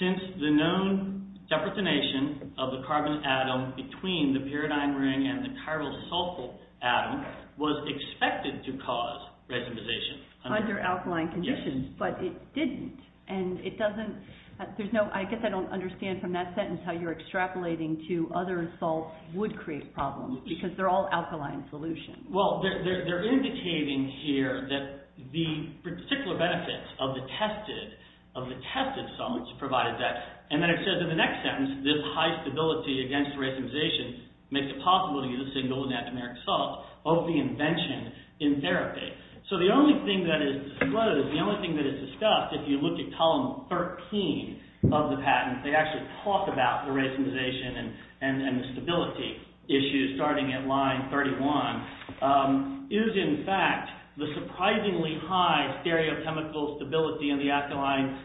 since the known deprotonation of the carbon atom between the pyridine ring and the chiral sulfate atom was expected to cause racemization. Under alkaline conditions, but it didn't. And it doesn't—there's no—I guess I don't understand from that sentence how you're extrapolating to other salts would create problems, because they're all alkaline solutions. Well, they're indicating here that the particular benefits of the tested salts provide that. And then it says in the next sentence, this high stability against racemization makes it possible to use a single enantiomeric salt of the invention in therapy. So the only thing that is disclosed, the only thing that is discussed, if you look at column 13 of the patent, they actually talk about the racemization and the stability issues starting at line 31, is in fact the surprisingly high stereochemical stability in the alkaline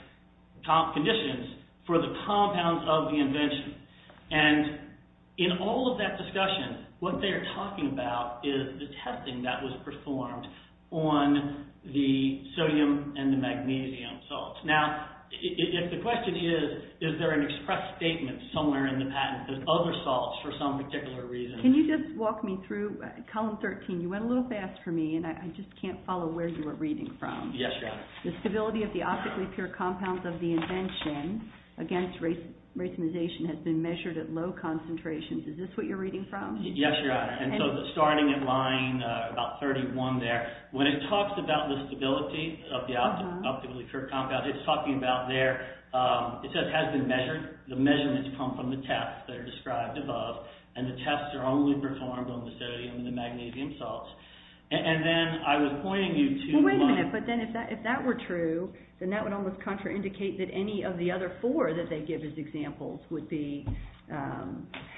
conditions for the compounds of the invention. And in all of that discussion, what they're talking about is the testing that was performed on the sodium and the magnesium salts. Now, if the question is, is there an express statement somewhere in the patent that other salts for some particular reason— Can you just walk me through column 13? You went a little fast for me, and I just can't follow where you were reading from. Yes, Your Honor. The stability of the optically pure compounds of the invention against racemization has been measured at low concentrations. Is this what you're reading from? Yes, Your Honor. And so starting at line about 31 there, when it talks about the stability of the optically pure compounds, it's talking about their—it says has been measured. The measurements come from the tests that are described above, and the tests are only performed on the sodium and the magnesium salts. And then I was pointing you to— Well, wait a minute. But then if that were true, then that would almost contraindicate that any of the other four that they give as examples would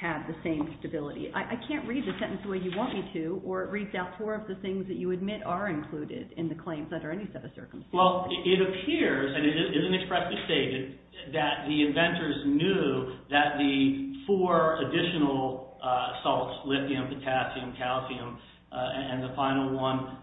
have the same stability. I can't read the sentence the way you want me to, or it reads out four of the things that you admit are included in the claims under any set of circumstances. Well, it appears, and it isn't expressly stated, that the inventors knew that the four additional salts— lithium, potassium, calcium, and the final one—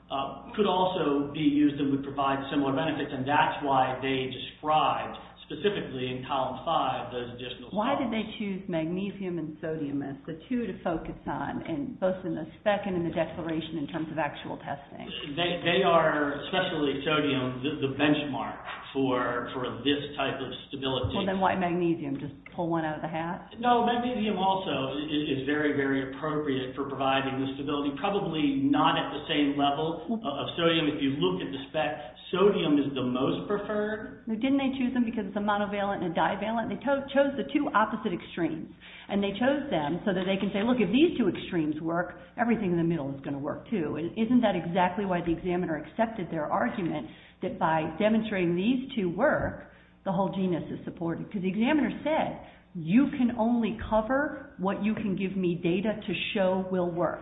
could also be used and would provide similar benefits, and that's why they described specifically in column 5 those additional salts. Why did they choose magnesium and sodium as the two to focus on, both in the spec and in the declaration in terms of actual testing? They are, especially sodium, the benchmark for this type of stability. Well, then why magnesium? Just pull one out of the hat? No, magnesium also is very, very appropriate for providing the stability, probably not at the same level of sodium. If you look at the spec, sodium is the most preferred. Didn't they choose them because it's a monovalent and a divalent? They chose the two opposite extremes, and they chose them so that they can say, look, if these two extremes work, everything in the middle is going to work, too. Isn't that exactly why the examiner accepted their argument that by demonstrating these two work, the whole genus is supported? Because the examiner said, you can only cover what you can give me data to show will work.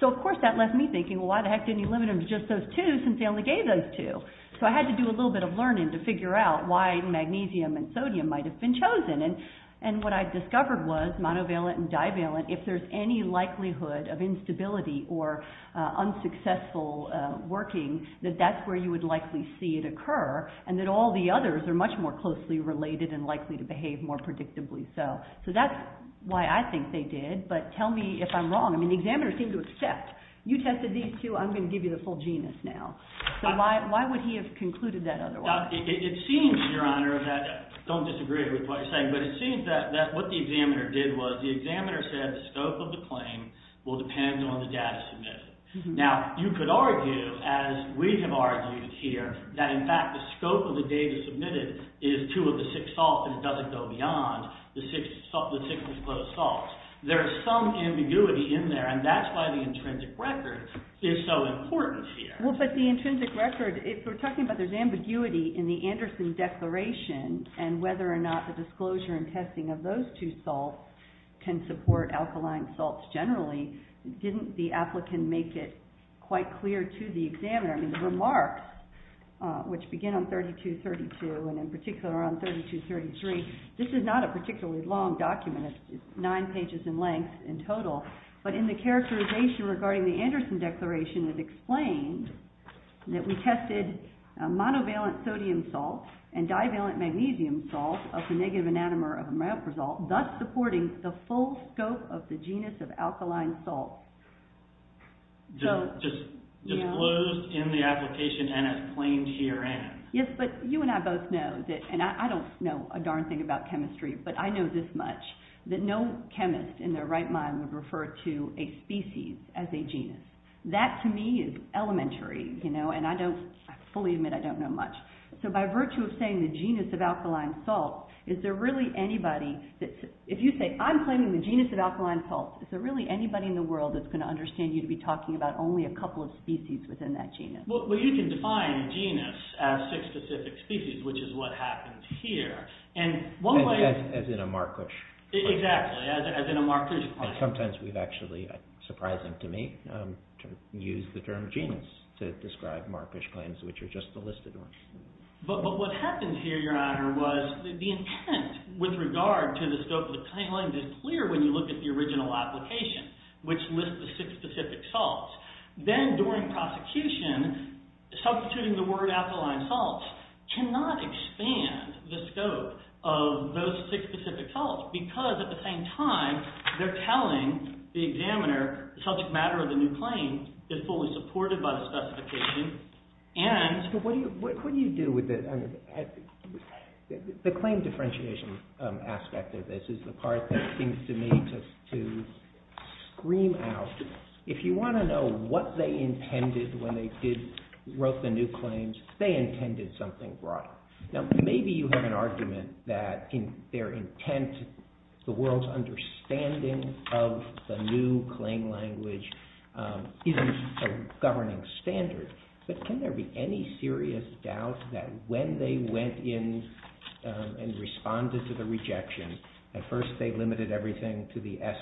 So, of course, that left me thinking, well, why the heck didn't you limit them to just those two, since they only gave those two? So I had to do a little bit of learning to figure out why magnesium and sodium might have been chosen. And what I discovered was monovalent and divalent, if there's any likelihood of instability or unsuccessful working, that that's where you would likely see it occur, and that all the others are much more closely related and likely to behave more predictably. So that's why I think they did, but tell me if I'm wrong. I mean, the examiner seemed to accept, you tested these two, I'm going to give you the full genus now. So why would he have concluded that otherwise? Well, it seems, Your Honor, that, don't disagree with what I'm saying, but it seems that what the examiner did was, the examiner said the scope of the claim will depend on the data submitted. Now, you could argue, as we have argued here, that in fact the scope of the data submitted is two of the six salts, but it doesn't go beyond the six disclosed salts. There is some ambiguity in there, and that's why the intrinsic record is so important here. Well, but the intrinsic record, if we're talking about there's ambiguity in the Anderson Declaration, and whether or not the disclosure and testing of those two salts can support alkaline salts generally, didn't the applicant make it quite clear to the examiner, I mean, the remarks, which begin on 3232, and in particular on 3233, this is not a particularly long document, it's nine pages in length in total, but in the characterization regarding the Anderson Declaration, it is explained that we tested monovalent sodium salts and divalent magnesium salts of the negative enantiomer of amyloprasol, thus supporting the full scope of the genus of alkaline salts. Just disclosed in the application and explained herein. Yes, but you and I both know, and I don't know a darn thing about chemistry, but I know this much, that no chemist in their right mind would refer to a species as a genus. That to me is elementary, and I fully admit I don't know much. So by virtue of saying the genus of alkaline salts, is there really anybody, if you say I'm claiming the genus of alkaline salts, is there really anybody in the world that's going to understand you to be talking about only a couple of species within that genus? Well, you can define genus as six specific species, which is what happens here, and one way... As in a marquish. Exactly, as in a marquish plant. And sometimes we've actually, surprising to me, used the term genus to describe marquish plants, which are just the listed ones. But what happens here, Your Honor, was the intent with regard to the scope of the claim is clear when you look at the original application, which lists the six specific salts. Then during prosecution, substituting the word alkaline salts cannot expand the scope of those six specific salts because at the same time, they're telling the examiner the subject matter of the new claim is fully supported by the specification and... But what do you do with it? The claim differentiation aspect of this is the part that seems to me to scream out, if you want to know what they intended when they wrote the new claims, they intended something wrong. Now, maybe you have an argument that in their intent, the world's understanding of the new claim language isn't a governing standard. But can there be any serious doubt that when they went in and responded to the rejection, at first they limited everything to the S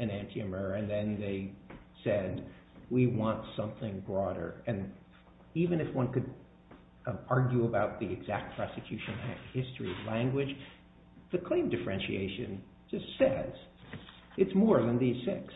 enantiomer, and then they said, we want something broader. And even if one could argue about the exact prosecution history language, the claim differentiation just says it's more than these six.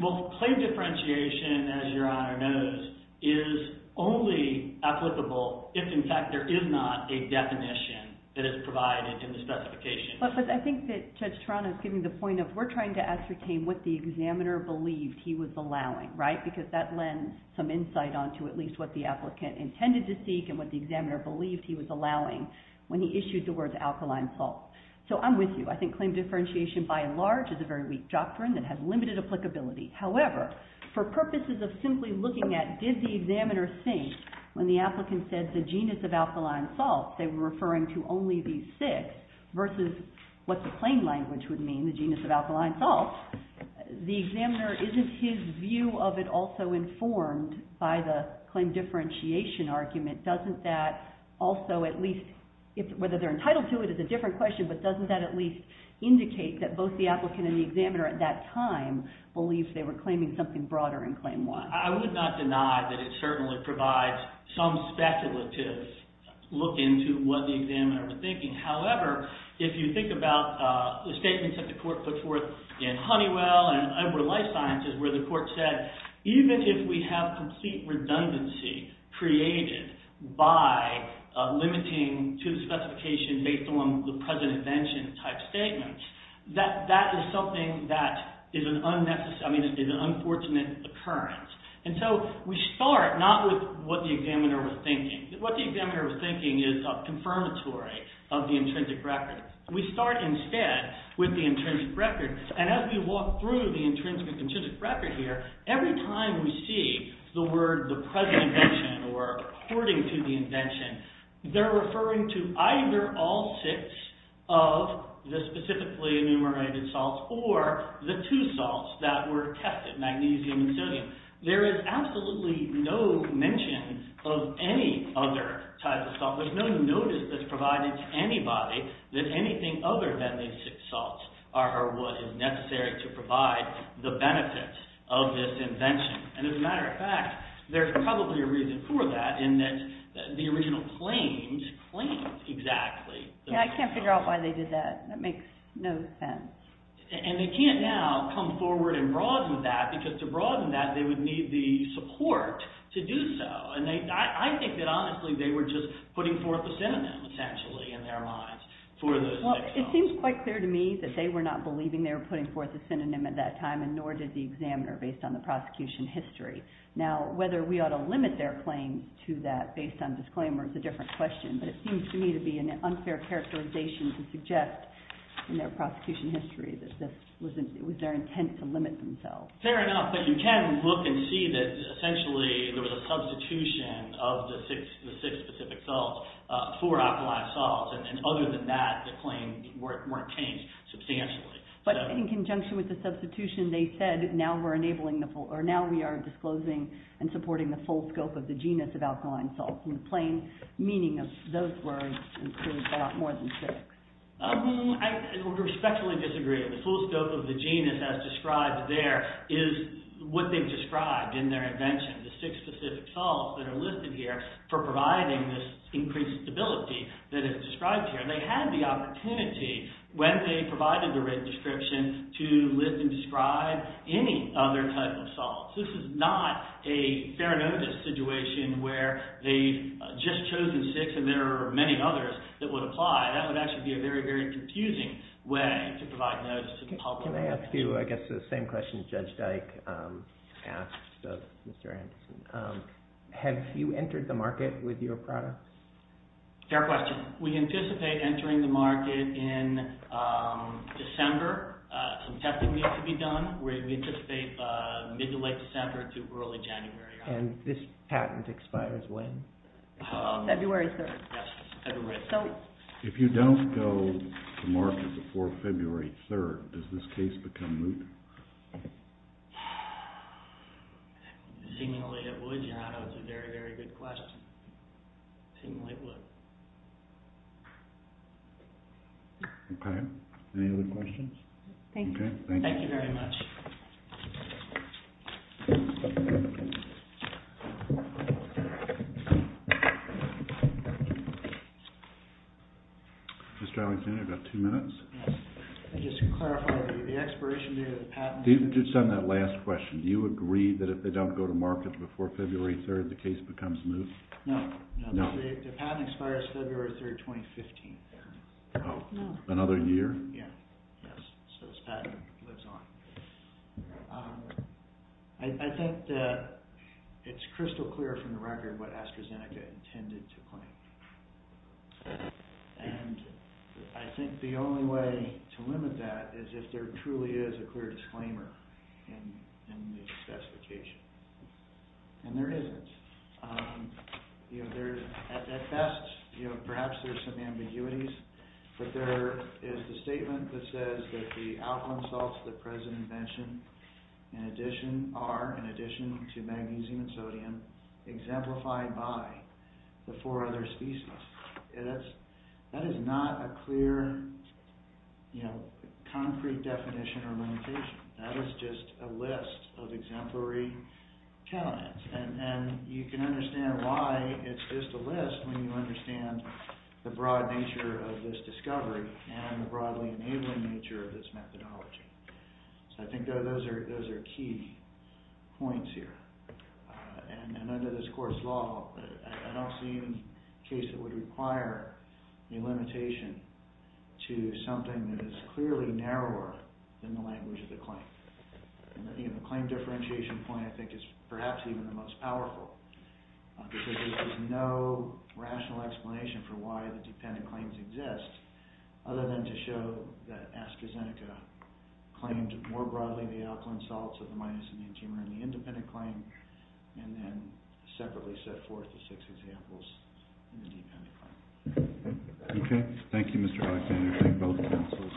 Well, claim differentiation, as Your Honor knows, is only applicable if, in fact, there is not a definition that is provided in the specification. But I think that Judge Toronto is getting the point of we're trying to ascertain what the examiner believed he was allowing, right? Because that lends some insight onto at least what the applicant intended to seek and what the examiner believed he was allowing when he issued the words alkaline salts. So I'm with you. I think claim differentiation by and large is a very weak doctrine that has limited applicability. However, for purposes of simply looking at did the examiner think when the applicant said the genus of alkaline salts, they were referring to only these six, versus what the claim language would mean, the genus of alkaline salts, the examiner, isn't his view of it also informed by the claim differentiation argument? Doesn't that also at least, whether they're entitled to it is a different question, but doesn't that at least indicate that both the applicant and the examiner at that time believed they were claiming something broader in Claim 1? I would not deny that it certainly provides some speculative look into what the examiner was thinking. However, if you think about the statements that the court put forth in Honeywell and Edward Life Sciences where the court said even if we have complete redundancy created by limiting to the specification based on the present invention type statements, that is something that is an unfortunate occurrence. And so we start not with what the examiner was thinking. What the examiner was thinking is a confirmatory of the intrinsic record. We start instead with the intrinsic record. And as we walk through the intrinsic and contrived record here, every time we see the word the present invention or according to the invention, they're referring to either all six of the specifically enumerated salts or the two salts that were tested, magnesium and sodium. There is absolutely no mention of any other type of salt. There's no notice that's provided to anybody that anything other than these six salts are what is necessary to provide the benefits of this invention. And as a matter of fact, there's probably a reason for that in that the original claims claim exactly. Yeah, I can't figure out why they did that. That makes no sense. And they can't now come forward and broaden that because to broaden that they would need the support to do so. And I think that honestly they were just putting forth a synonym essentially in their minds for those six salts. It seems quite clear to me that they were not believing they were putting forth a synonym at that time and nor did the examiner based on the prosecution history. Now whether we ought to limit their claim to that based on disclaimer is a different question. But it seems to me to be an unfair characterization to suggest in their prosecution history that it was their intent to limit themselves. Fair enough, but you can look and see that essentially there was a substitution of the six specific salts for alkaline salts. And other than that the claim weren't changed substantially. But in conjunction with the substitution they said now we are disclosing and supporting the full scope of the genus of alkaline salts. And the plain meaning of those words includes a lot more than six. I respectfully disagree. The full scope of the genus as described there is what they've described in their invention. The six specific salts that are listed here for providing this increased stability that is described here. They had the opportunity when they provided the rate description to list and describe any other type of salts. This is not a fair notice situation where they've just chosen six and there are many others that would apply. That would actually be a very, very confusing way to provide notice to the public. Can I ask you I guess the same question Judge Dyke asked of Mr. Anderson. Have you entered the market with your product? Fair question. We anticipate entering the market in December. Some testing needs to be done. We anticipate mid to late December to early January. And this patent expires when? February 3rd. Yes, February 3rd. If you don't go to market before February 3rd does this case become moot? Seemingly it would. Okay. Any other questions? Thank you. Thank you very much. Mr. Alexander, you've got two minutes. Yes. Just to clarify, the expiration date of the patent. Just on that last question. before February 3rd, they're going to be moot? No. The patent expires February 3rd, 2015. Oh, another year? Yes. So this patent lives on. I think that it's crystal clear from the record what AstraZeneca intended to claim. And I think the only way to limit that is if there truly is a clear disclaimer in the specification. And there isn't. At best, perhaps there's some ambiguities, but there is the statement that says that the alkaline salts that the President mentioned are, in addition to magnesium and sodium, exemplified by the four other species. That is not a clear, concrete definition or limitation. That is just a list of exemplary candidates. And you can understand why it's just a list when you understand the broad nature of this discovery and the broadly enabling nature of this methodology. So I think those are key points here. And under this court's law, I don't see any case that would require any limitation to something that is clearly narrower than the language of the claim. And the claim differentiation point, I think, is perhaps even the most powerful because there's no rational explanation for why the dependent claims exist other than to show that AstraZeneca claimed more broadly the alkaline salts of the myosinian tumor in the independent claim and then separately set forth the six examples in the dependent claim. Okay. Thank you, Mr. Alexander. Thank both counsels. Case is submitted. All rise.